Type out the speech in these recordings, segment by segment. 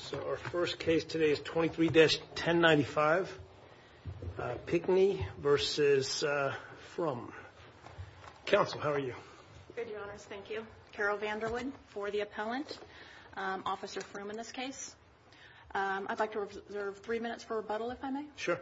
So our first case today is 23-1095, Pickney v. Frum. Counsel, how are you? Good, Your Honors. Thank you. Carol Vanderwood for the appellant, Officer Frum in this case. I'd like to reserve three minutes for rebuttal, if I may. Sure.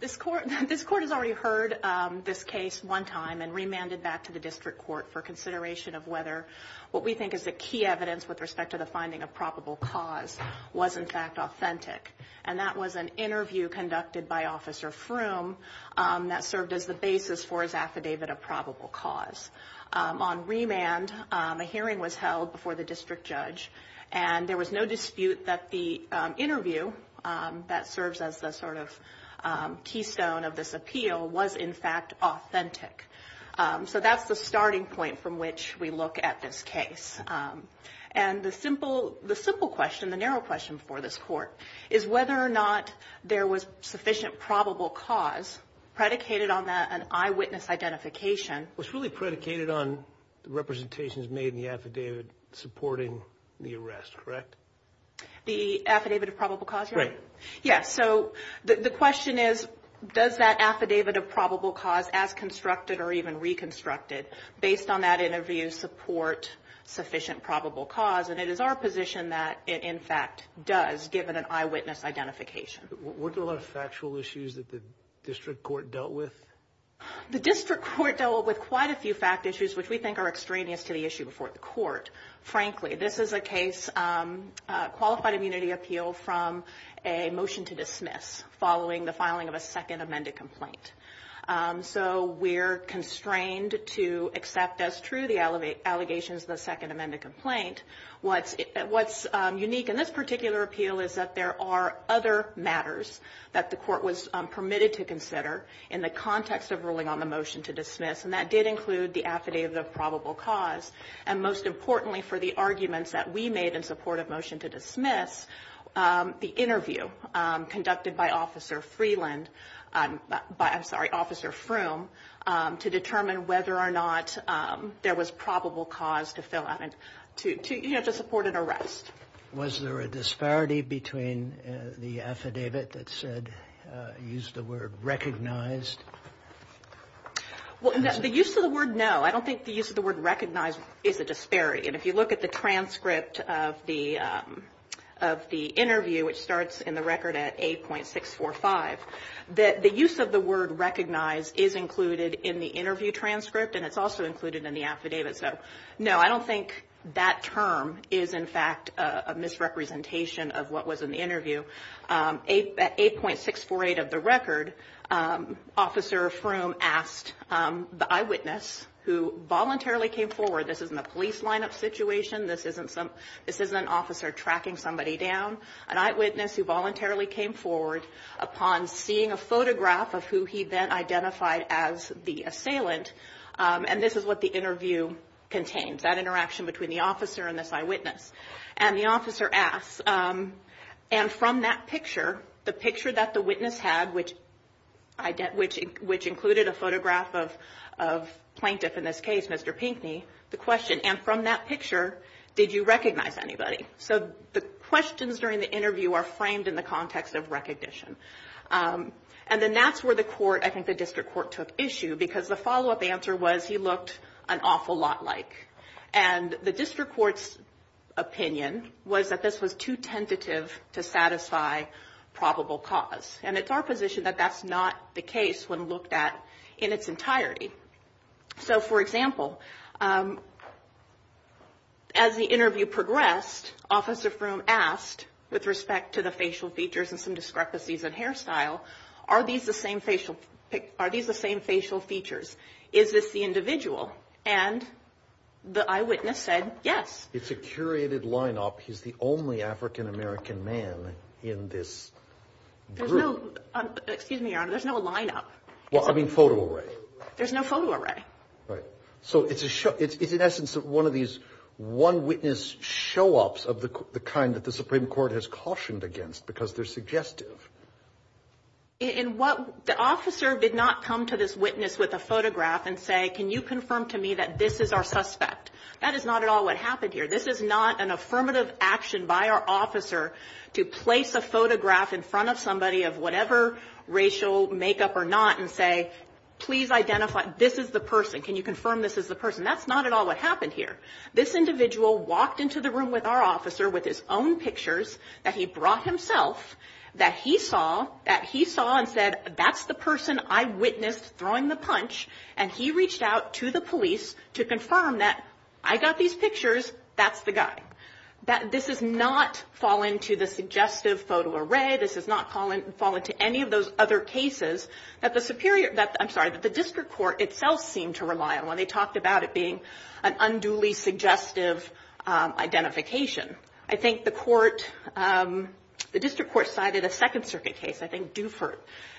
This Court has already heard this case one time and remanded back to the District Court for consideration of whether what we think is the key evidence with respect to the finding of probable cause was in fact authentic. And that was an interview conducted by Officer Frum that served as the basis for his affidavit of probable cause. On remand, a hearing was held before the District Judge, and there was no dispute that the interview that serves as the sort of keystone of this appeal was in fact authentic. So that's the starting point from which we look at this case. And the simple question, the narrow question for this Court, is whether or not there was sufficient probable cause predicated on an eyewitness identification. It was really predicated on representations made in the affidavit supporting the arrest, correct? The affidavit of probable cause, Your Honor? Right. Yes. So the question is, does that affidavit of probable cause, as constructed or even reconstructed, based on that interview, support sufficient probable cause? And it is our position that it in fact does, given an eyewitness identification. Weren't there a lot of factual issues that the District Court dealt with? The District Court dealt with quite a few fact issues which we think are extraneous to the issue before the Court. Frankly, this is a case, a qualified immunity appeal from a motion to dismiss following the filing of a second amended complaint. So we're constrained to accept as true the allegations of the second amended complaint. What's unique in this particular appeal is that there are other matters that the Court was permitted to consider in the context of ruling on the motion to dismiss, and that did include the affidavit of probable cause. And most importantly for the arguments that we made in support of motion to dismiss, the interview conducted by Officer Freeland, I'm sorry, Officer Froome, to determine whether or not there was probable cause to support an arrest. Was there a disparity between the affidavit that said, used the word recognized? Well, the use of the word no, I don't think the use of the word recognized is a disparity. And if you look at the transcript of the interview, which starts in the record at 8.645, the use of the word recognized is included in the interview transcript, and it's also included in the affidavit. So no, I don't think that term is in fact a misrepresentation of what was in the interview. At 8.648 of the record, Officer Froome asked the eyewitness who voluntarily came forward, this isn't a police lineup situation, this isn't an officer tracking somebody down, an eyewitness who voluntarily came forward upon seeing a photograph of who he then identified as the assailant, and this is what the interview contains, that interaction between the officer and this eyewitness. And the officer asks, and from that picture, the picture that the witness had, which included a photograph of plaintiff in this case, Mr. Pinkney, the question, and from that picture, did you recognize anybody? So the questions during the interview are framed in the context of recognition. And then that's where the court, I think the district court took issue, because the follow-up answer was he looked an awful lot like. And the district court's opinion was that this was too tentative to satisfy probable cause. And it's our position that that's not the case when looked at in its entirety. So, for example, as the interview progressed, Officer Froome asked with respect to the facial features and some discrepancies in hairstyle, are these the same facial features? Is this the individual? And the eyewitness said yes. It's a curated line-up. He's the only African-American man in this group. There's no, excuse me, Your Honor, there's no line-up. Well, I mean photo array. There's no photo array. Right. So it's a show, it's in essence one of these one-witness show-ups of the kind that the Supreme Court has cautioned against because they're suggestive. And what the officer did not come to this witness with a photograph and say, can you confirm to me that this is our suspect? That is not at all what happened here. This is not an affirmative action by our officer to place a photograph in front of somebody of whatever racial makeup or not and say, please identify, this is the person. Can you confirm this is the person? That's not at all what happened here. This individual walked into the room with our officer with his own pictures that he brought himself that he saw, that he saw and said, that's the person I witnessed throwing the punch, and he reached out to the police to confirm that I got these pictures, that's the guy. This has not fallen to the suggestive photo array. This has not fallen to any of those other cases that the Superior, I'm sorry, but the district court itself seemed to rely on when they talked about it being an unduly suggestive identification. I think the court, the district court cited a Second Circuit case, I think Dufert,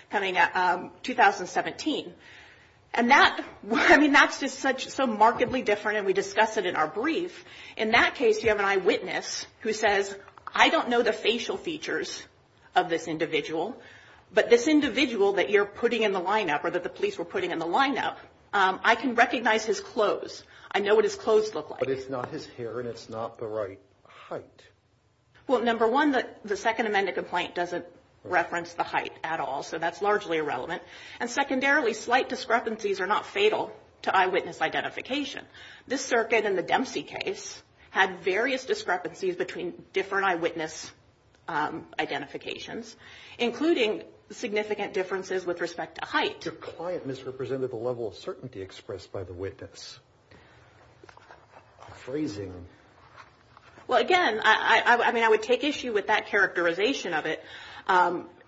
coming out 2017. And that, I mean, that's just so markedly different, and we discuss it in our brief. In that case, you have an eyewitness who says, I don't know the facial features of this individual, but this individual that you're putting in the lineup or that the police were putting in the lineup, I can recognize his clothes. I know what his clothes look like. But it's not his hair, and it's not the right height. Well, number one, the Second Amendment complaint doesn't reference the height at all, so that's largely irrelevant. And secondarily, slight discrepancies are not fatal to eyewitness identification. This circuit in the Dempsey case had various discrepancies between different eyewitness identifications, including significant differences with respect to height. Your client misrepresented the level of certainty expressed by the witness. A phrasing. Well, again, I mean, I would take issue with that characterization of it.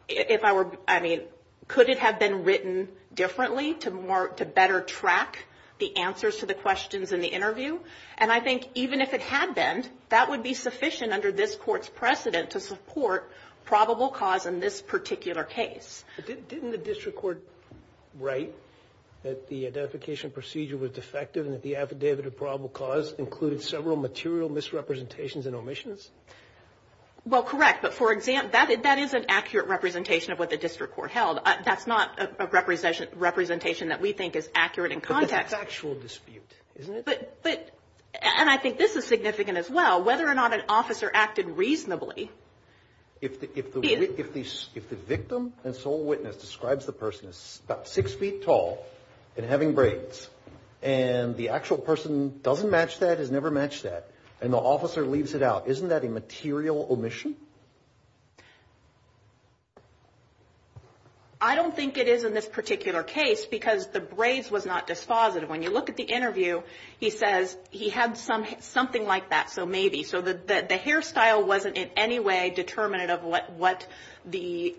If I were, I mean, could it have been written differently to better track the answers to the questions in the interview? And I think even if it had been, that would be sufficient under this Court's precedent to support probable cause in this particular case. Didn't the district court write that the identification procedure was defective and that the affidavit of probable cause included several material misrepresentations and omissions? Well, correct, but for example, that is an accurate representation of what the district court held. That's not a representation that we think is accurate in context. But that's actual dispute, isn't it? But, and I think this is significant as well, whether or not an officer acted reasonably. If the victim and sole witness describes the person as about six feet tall and having braids, and the actual person doesn't match that, has never matched that, and the officer leaves it out, isn't that a material omission? I don't think it is in this particular case because the braids was not dispositive. When you look at the interview, he says he had something like that, so maybe. So the hairstyle wasn't in any way determinative of what the,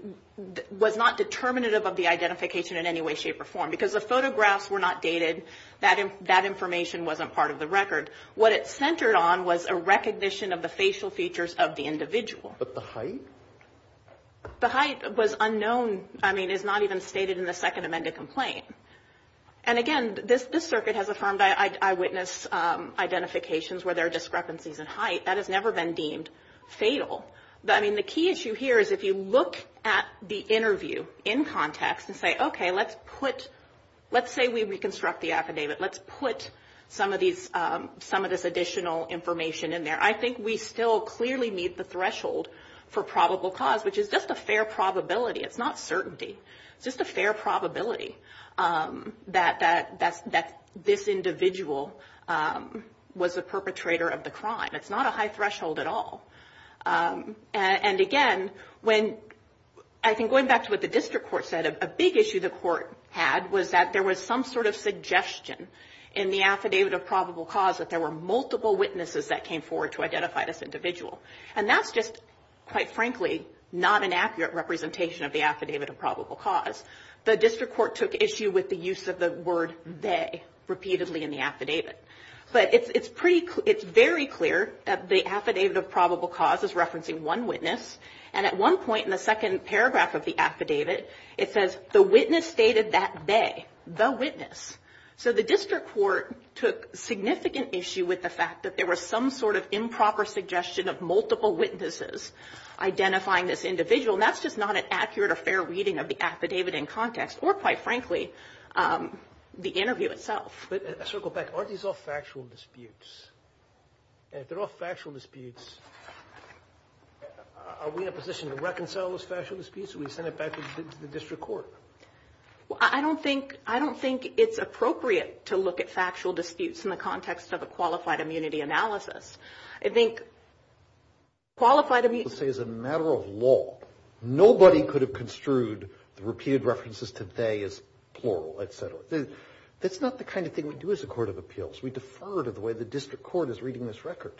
was not determinative of the identification in any way, shape, or form. Because the photographs were not dated, that information wasn't part of the record. What it centered on was a recognition of the facial features of the individual. But the height? The height was unknown. I mean, it's not even stated in the Second Amendment complaint. And again, this circuit has affirmed eyewitness identifications where there are discrepancies in height. That has never been deemed fatal. I mean, the key issue here is if you look at the interview in context and say, okay, let's put, let's say we reconstruct the affidavit, let's put some of this additional information in there, I think we still clearly meet the threshold for probable cause, which is just a fair probability. It's not certainty. It's just a fair probability that this individual was a perpetrator of the crime. It's not a high threshold at all. And again, when, I think going back to what the district court said, a big issue the court had was that there was some sort of suggestion in the affidavit of probable cause that there were multiple witnesses that came forward to identify this individual. And that's just, quite frankly, not an accurate representation of the affidavit of probable cause. The district court took issue with the use of the word they repeatedly in the affidavit. But it's pretty, it's very clear that the affidavit of probable cause is referencing one witness. And at one point in the second paragraph of the affidavit, it says the witness stated that they, the witness. So the district court took significant issue with the fact that there was some sort of improper suggestion of multiple witnesses identifying this individual. And that's just not an accurate or fair reading of the affidavit in context or, quite frankly, the interview itself. But a circle back, aren't these all factual disputes? And if they're all factual disputes, are we in a position to reconcile those factual disputes, or we send it back to the district court? Well, I don't think, I don't think it's appropriate to look at factual disputes in the context of a qualified immunity analysis. I think qualified immunity is a matter of law. Nobody could have construed the repeated references to they as plural, et cetera. That's not the kind of thing we do as a court of appeals. We defer to the way the district court is reading this record.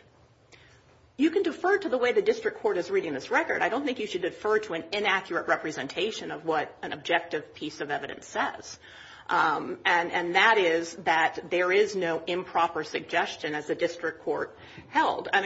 You can defer to the way the district court is reading this record. I don't think you should defer to an inaccurate representation of what an objective piece of evidence says. And that is that there is no improper suggestion, as the district court held. I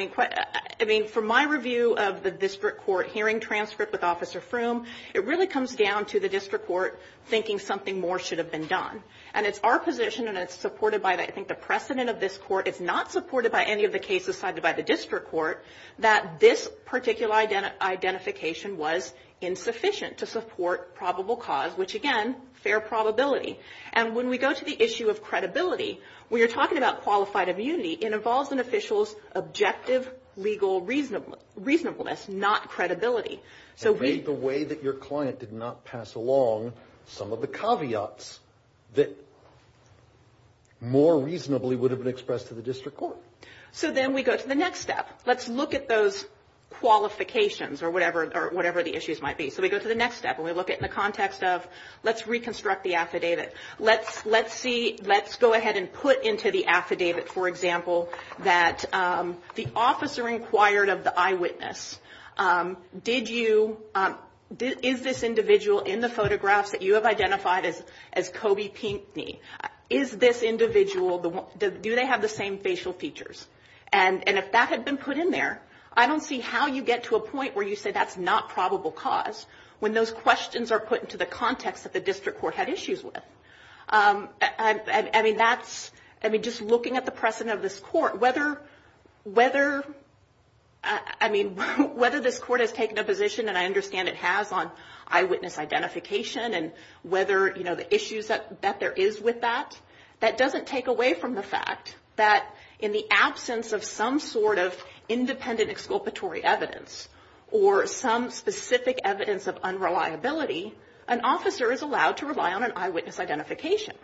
mean, for my review of the district court hearing transcript with Officer Froome, it really comes down to the district court thinking something more should have been done. And it's our position, and it's supported by, I think, the precedent of this court, it's not supported by any of the cases cited by the district court, that this particular identification was insufficient to support probable cause, which, again, fair probability. And when we go to the issue of credibility, we are talking about qualified immunity. It involves an official's objective legal reasonableness, not credibility. It made the way that your client did not pass along some of the caveats that more reasonably would have been expressed to the district court. So then we go to the next step. Let's look at those qualifications or whatever the issues might be. So we go to the next step, and we look at it in the context of let's reconstruct the affidavit. Let's see, let's go ahead and put into the affidavit, for example, that the officer inquired of the eyewitness, did you, is this individual in the photographs that you have identified as Kobe Pinkney, is this individual, do they have the same facial features? And if that had been put in there, I don't see how you get to a point where you say that's not probable cause when those questions are put into the context that the district court had issues with. I mean, just looking at the precedent of this court, whether this court has taken a position, and I understand it has, on eyewitness identification and whether the issues that there is with that, that doesn't take away from the fact that in the absence of some sort of independent exculpatory evidence or some specific evidence of unreliability, an officer is allowed to rely on an eyewitness identification.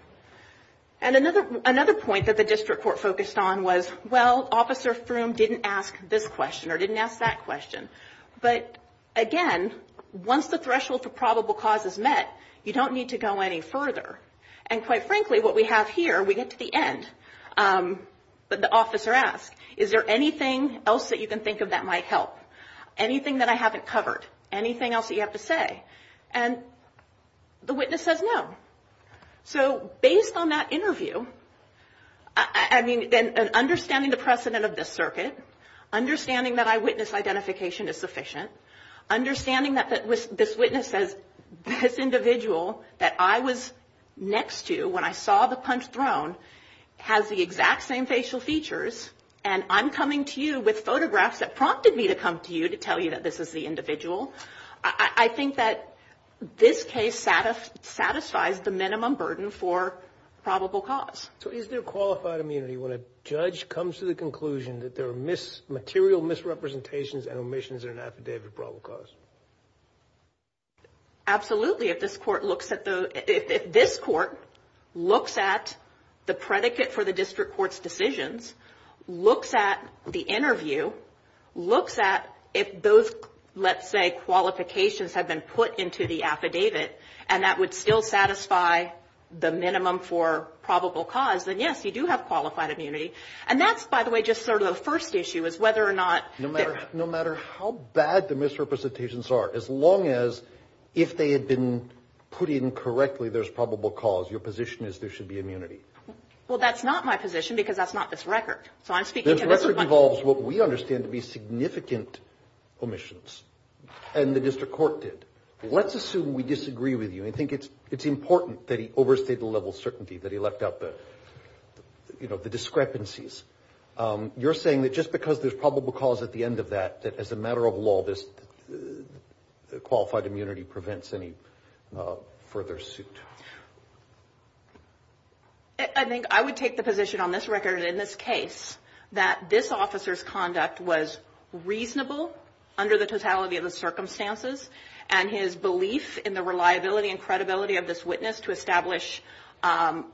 And another point that the district court focused on was, well, Officer Froome didn't ask this question or didn't ask that question. But again, once the threshold for probable cause is met, you don't need to go any further. And quite frankly, what we have here, we get to the end. But the officer asks, is there anything else that you can think of that might help? Anything that I haven't covered? Anything else that you have to say? And the witness says no. So based on that interview, I mean, understanding the precedent of this circuit, understanding that eyewitness identification is sufficient, understanding that this witness says this individual that I was next to when I saw the punch thrown has the exact same facial features and I'm coming to you with photographs that prompted me to come to you to tell you that this is the individual. I think that this case satisfies the minimum burden for probable cause. So is there qualified immunity when a judge comes to the conclusion that there are material misrepresentations and omissions in an affidavit of probable cause? Absolutely. If this court looks at the predicate for the district court's decisions, looks at the interview, looks at if those, let's say, qualifications have been put into the affidavit, and that would still satisfy the minimum for probable cause, then yes, you do have qualified immunity. And that's, by the way, just sort of the first issue is whether or not. No matter how bad the misrepresentations are, as long as if they had been put in correctly, there's probable cause, your position is there should be immunity. Well, that's not my position because that's not this record. This record involves what we understand to be significant omissions, and the district court did. Let's assume we disagree with you and think it's important that he overstayed the level of certainty, that he left out the discrepancies. You're saying that just because there's probable cause at the end of that, that as a matter of law, this qualified immunity prevents any further suit. I think I would take the position on this record in this case that this officer's conduct was reasonable under the totality of the circumstances, and his belief in the reliability and credibility of this witness to establish an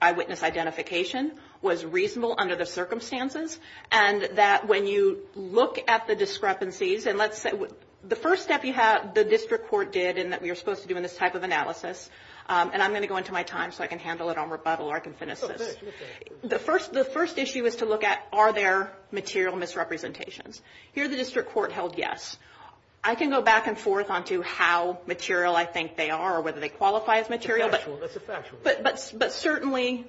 eyewitness identification was reasonable under the circumstances, and that when you look at the discrepancies, and let's say the first step the district court did and that we were supposed to do in this type of analysis, and I'm going to go into my time so I can handle it on rebuttal or I can finish this. The first issue is to look at are there material misrepresentations. Here the district court held yes. I can go back and forth on to how material I think they are or whether they qualify as material, but certainly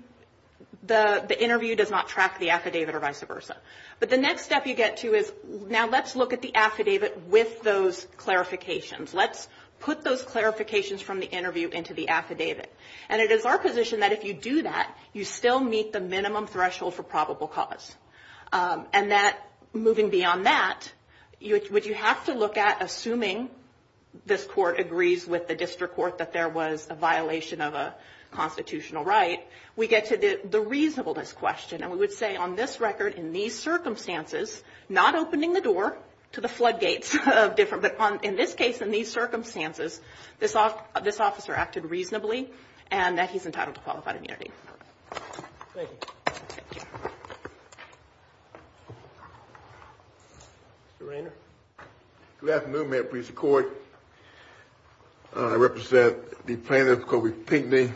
the interview does not track the affidavit or vice versa, but the next step you get to is now let's look at the affidavit with those clarifications. Let's put those clarifications from the interview into the affidavit, and it is our position that if you do that, you still meet the minimum threshold for probable cause, and moving beyond that, would you have to look at assuming this court agrees with the district court that there was a violation of a constitutional right, we get to the reasonableness question, and we would say on this record in these circumstances, not opening the door to the floodgates of different, but in this case in these circumstances, this officer acted reasonably and that he's entitled to qualified immunity. Thank you. Thank you. Mr. Raynor. Good afternoon, Mayor and Precinct Court. I represent the plaintiff, Coby Pinckney,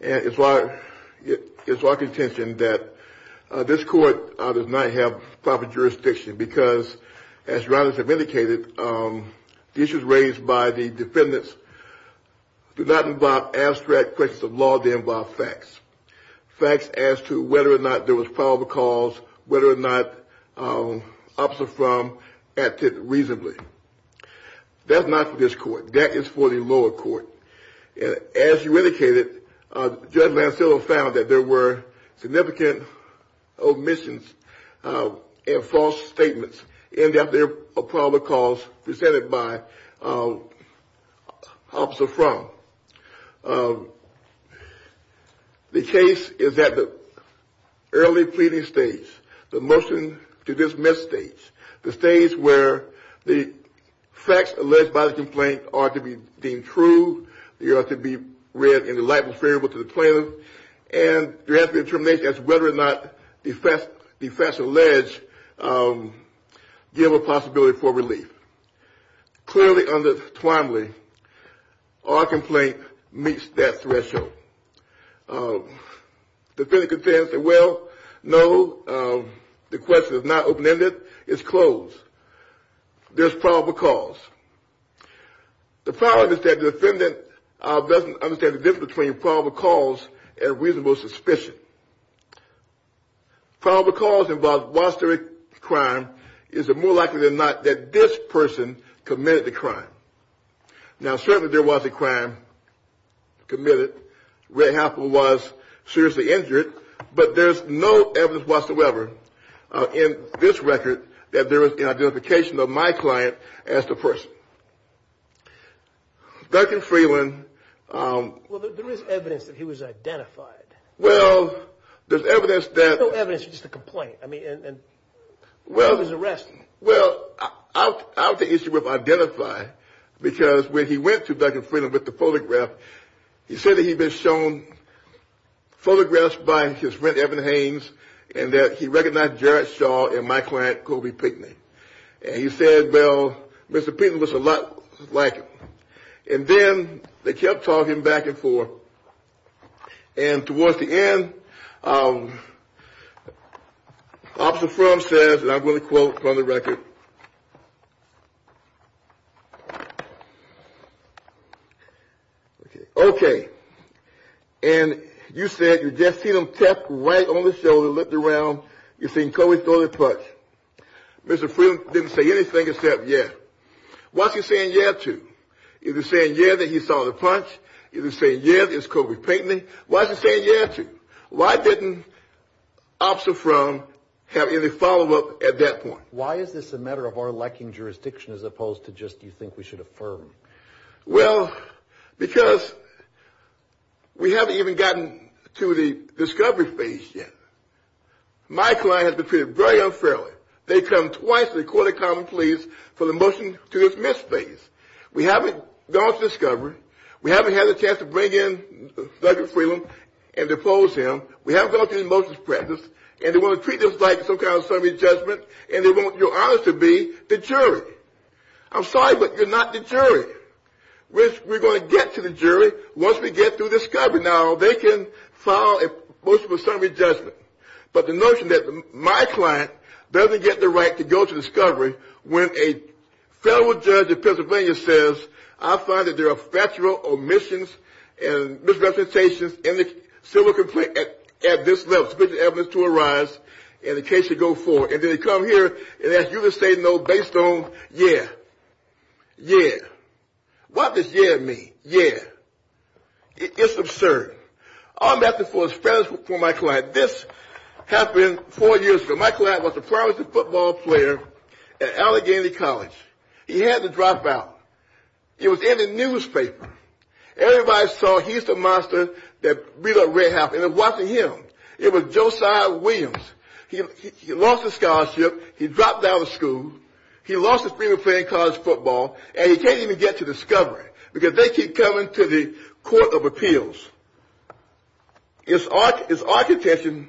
and it's our contention that this court does not have proper jurisdiction, because as Raynor has indicated, the issues raised by the defendants do not involve abstract questions of law. They involve facts, facts as to whether or not there was probable cause, whether or not officer from acted reasonably. That's not for this court. That is for the lower court, and as you indicated, Judge Lancello found that there were significant omissions and false statements in the probable cause presented by officer from. The case is at the early pleading stage, the motion to dismiss stage, the stage where the facts alleged by the complaint are to be deemed true, they are to be read in a light and favorable to the plaintiff, and there has to be determination as to whether or not the facts alleged give a possibility for relief. Clearly under Twombly, our complaint meets that threshold. Defendant contends that, well, no, the question is not open-ended. It's closed. There's probable cause. The problem is that the defendant doesn't understand the difference between probable cause and reasonable suspicion. Probable cause involves a crime. Is it more likely than not that this person committed the crime? Now, certainly there was a crime committed. Red Happen was seriously injured, but there's no evidence whatsoever in this record that there was an identification of my client as the person. Duncan Freeland. Well, there is evidence that he was identified. Well, there's evidence that. There's no evidence. It's just a complaint. I mean, and he was arrested. Well, I'll take issue with identify because when he went to Duncan Freeland with the photograph, he said that he'd been shown photographs by his friend Evan Haynes and that he recognized Jarrett Shaw and my client Colby Pitney. And he said, well, Mr. Pitney looks a lot like him. And then they kept talking back and forth. And towards the end, Officer Frum says, and I'm going to quote from the record, Okay. And you said you just seen him tap right on the shoulder, looked around, you seen Colby throw the punch. Mr. Freeland didn't say anything except yeah. Why is he saying yeah to? Is he saying yeah that he saw the punch? Is he saying yeah that it's Colby Pitney? Why is he saying yeah to? Why didn't Officer Frum have any follow-up at that point? Why is this a matter of our lacking jurisdiction as opposed to just you think we should affirm? Well, because we haven't even gotten to the discovery phase yet. My client has been treated very unfairly. They come twice to the court of common pleas for the motion to dismiss phase. We haven't gone to discovery. We haven't had a chance to bring in Duncan Freeland and depose him. We haven't gone to the motions practice. And they want to treat this like some kind of summary judgment. And they want your honor to be the jury. I'm sorry, but you're not the jury. We're going to get to the jury once we get through discovery. Now, they can file a motion for summary judgment. But the notion that my client doesn't get the right to go to discovery when a federal judge in Pennsylvania says I find that there are factual omissions and misrepresentations in the civil complaint at this level, sufficient evidence to arise and the case should go forward. And then they come here and ask you to say no based on yeah. Yeah. What does yeah mean? Yeah. It's absurd. All I'm asking for is fairness for my client. This happened four years ago. My client was a promising football player at Allegheny College. He had to drop out. It was in the newspaper. Everybody saw he's the monster that beat up Red Happen. It wasn't him. It was Josiah Williams. He lost his scholarship. He dropped out of school. He lost his dream of playing college football, and he can't even get to discovery because they keep coming to the court of appeals. It's our contention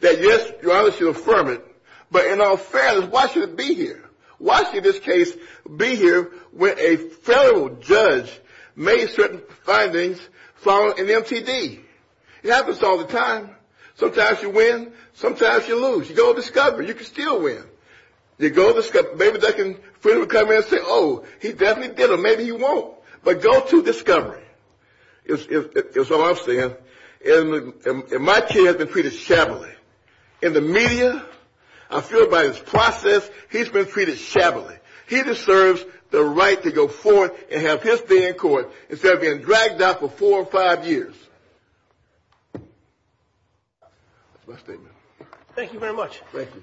that yes, your Honor, she'll affirm it. But in all fairness, why should it be here? Why should this case be here when a federal judge made certain findings following an MTD? It happens all the time. Sometimes you win. Sometimes you lose. You go to discovery. You can still win. You go to discovery. Maybe they can come in and say, oh, he definitely did or maybe he won't. But go to discovery is all I'm saying. And my kid has been treated shabbily. In the media, I feel about his process, he's been treated shabbily. He deserves the right to go forth and have his day in court instead of being dragged out for four or five years. That's my statement. Thank you very much. Thank you.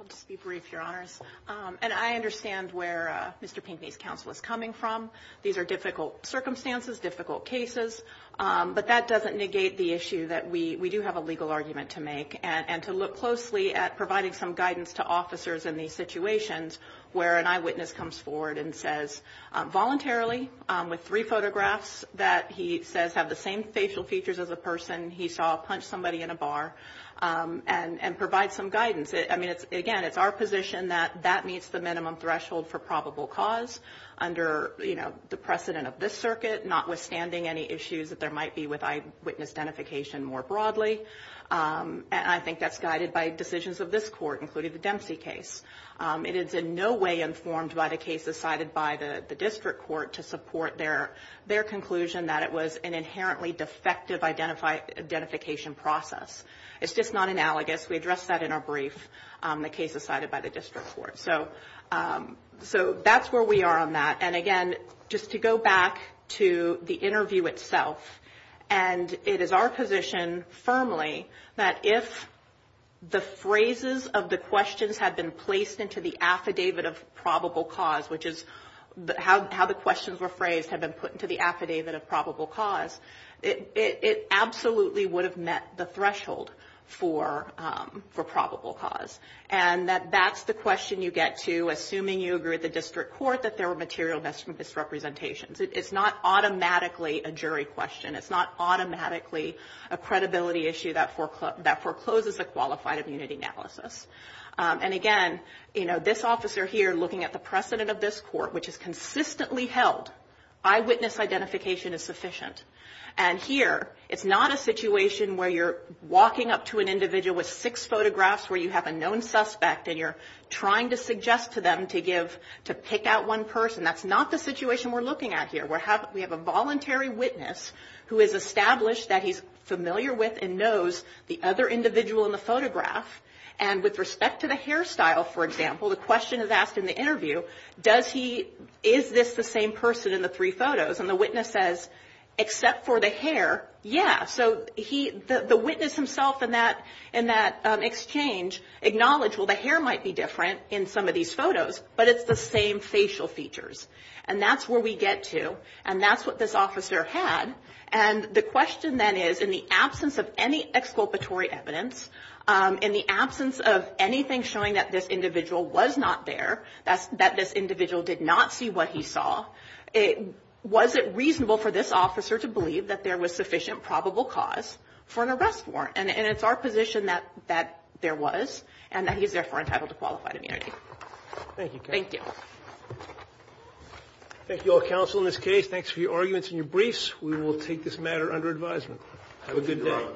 I'll just be brief, Your Honors. And I understand where Mr. Pinckney's counsel is coming from. These are difficult circumstances, difficult cases. But that doesn't negate the issue that we do have a legal argument to make and to look closely at providing some guidance to officers in these situations where an eyewitness comes forward and says voluntarily with three photographs that he says have the same facial features as a person he saw punch somebody in a bar and provide some guidance. I mean, again, it's our position that that meets the minimum threshold for probable cause under, you know, the precedent of this circuit notwithstanding any issues that there might be with eyewitness identification more broadly. And I think that's guided by decisions of this court, including the Dempsey case. It is in no way informed by the cases cited by the district court to support their conclusion that it was an inherently defective identification process. It's just not analogous. We addressed that in our brief, the cases cited by the district court. So that's where we are on that. And, again, just to go back to the interview itself. And it is our position firmly that if the phrases of the questions had been placed into the affidavit of probable cause, which is how the questions were phrased, had been put into the affidavit of probable cause, it absolutely would have met the threshold for probable cause. And that that's the question you get to assuming you agree with the district court that there were material misrepresentations. It's not automatically a jury question. It's not automatically a credibility issue that forecloses a qualified immunity analysis. And, again, you know, this officer here looking at the precedent of this court, which is consistently held, eyewitness identification is sufficient. And here it's not a situation where you're walking up to an individual with six photographs where you have a known suspect and you're trying to suggest to them to give, to pick out one person. That's not the situation we're looking at here. We have a voluntary witness who is established that he's familiar with and knows the other individual in the photograph. And with respect to the hairstyle, for example, the question is asked in the interview, does he, is this the same person in the three photos? And the witness says, except for the hair, yeah. So the witness himself in that exchange acknowledged, well, the hair might be different in some of these photos, but it's the same facial features. And that's where we get to, and that's what this officer had. And the question then is, in the absence of any exculpatory evidence, in the absence of anything showing that this individual was not there, that this individual did not see what he saw, was it reasonable for this officer to believe that there was sufficient probable cause for an arrest warrant? And it's our position that there was, and that he's therefore entitled to qualified immunity. Thank you. Thank you. Thank you all, counsel, in this case. Thanks for your arguments and your briefs. We will take this matter under advisement. Have a good day.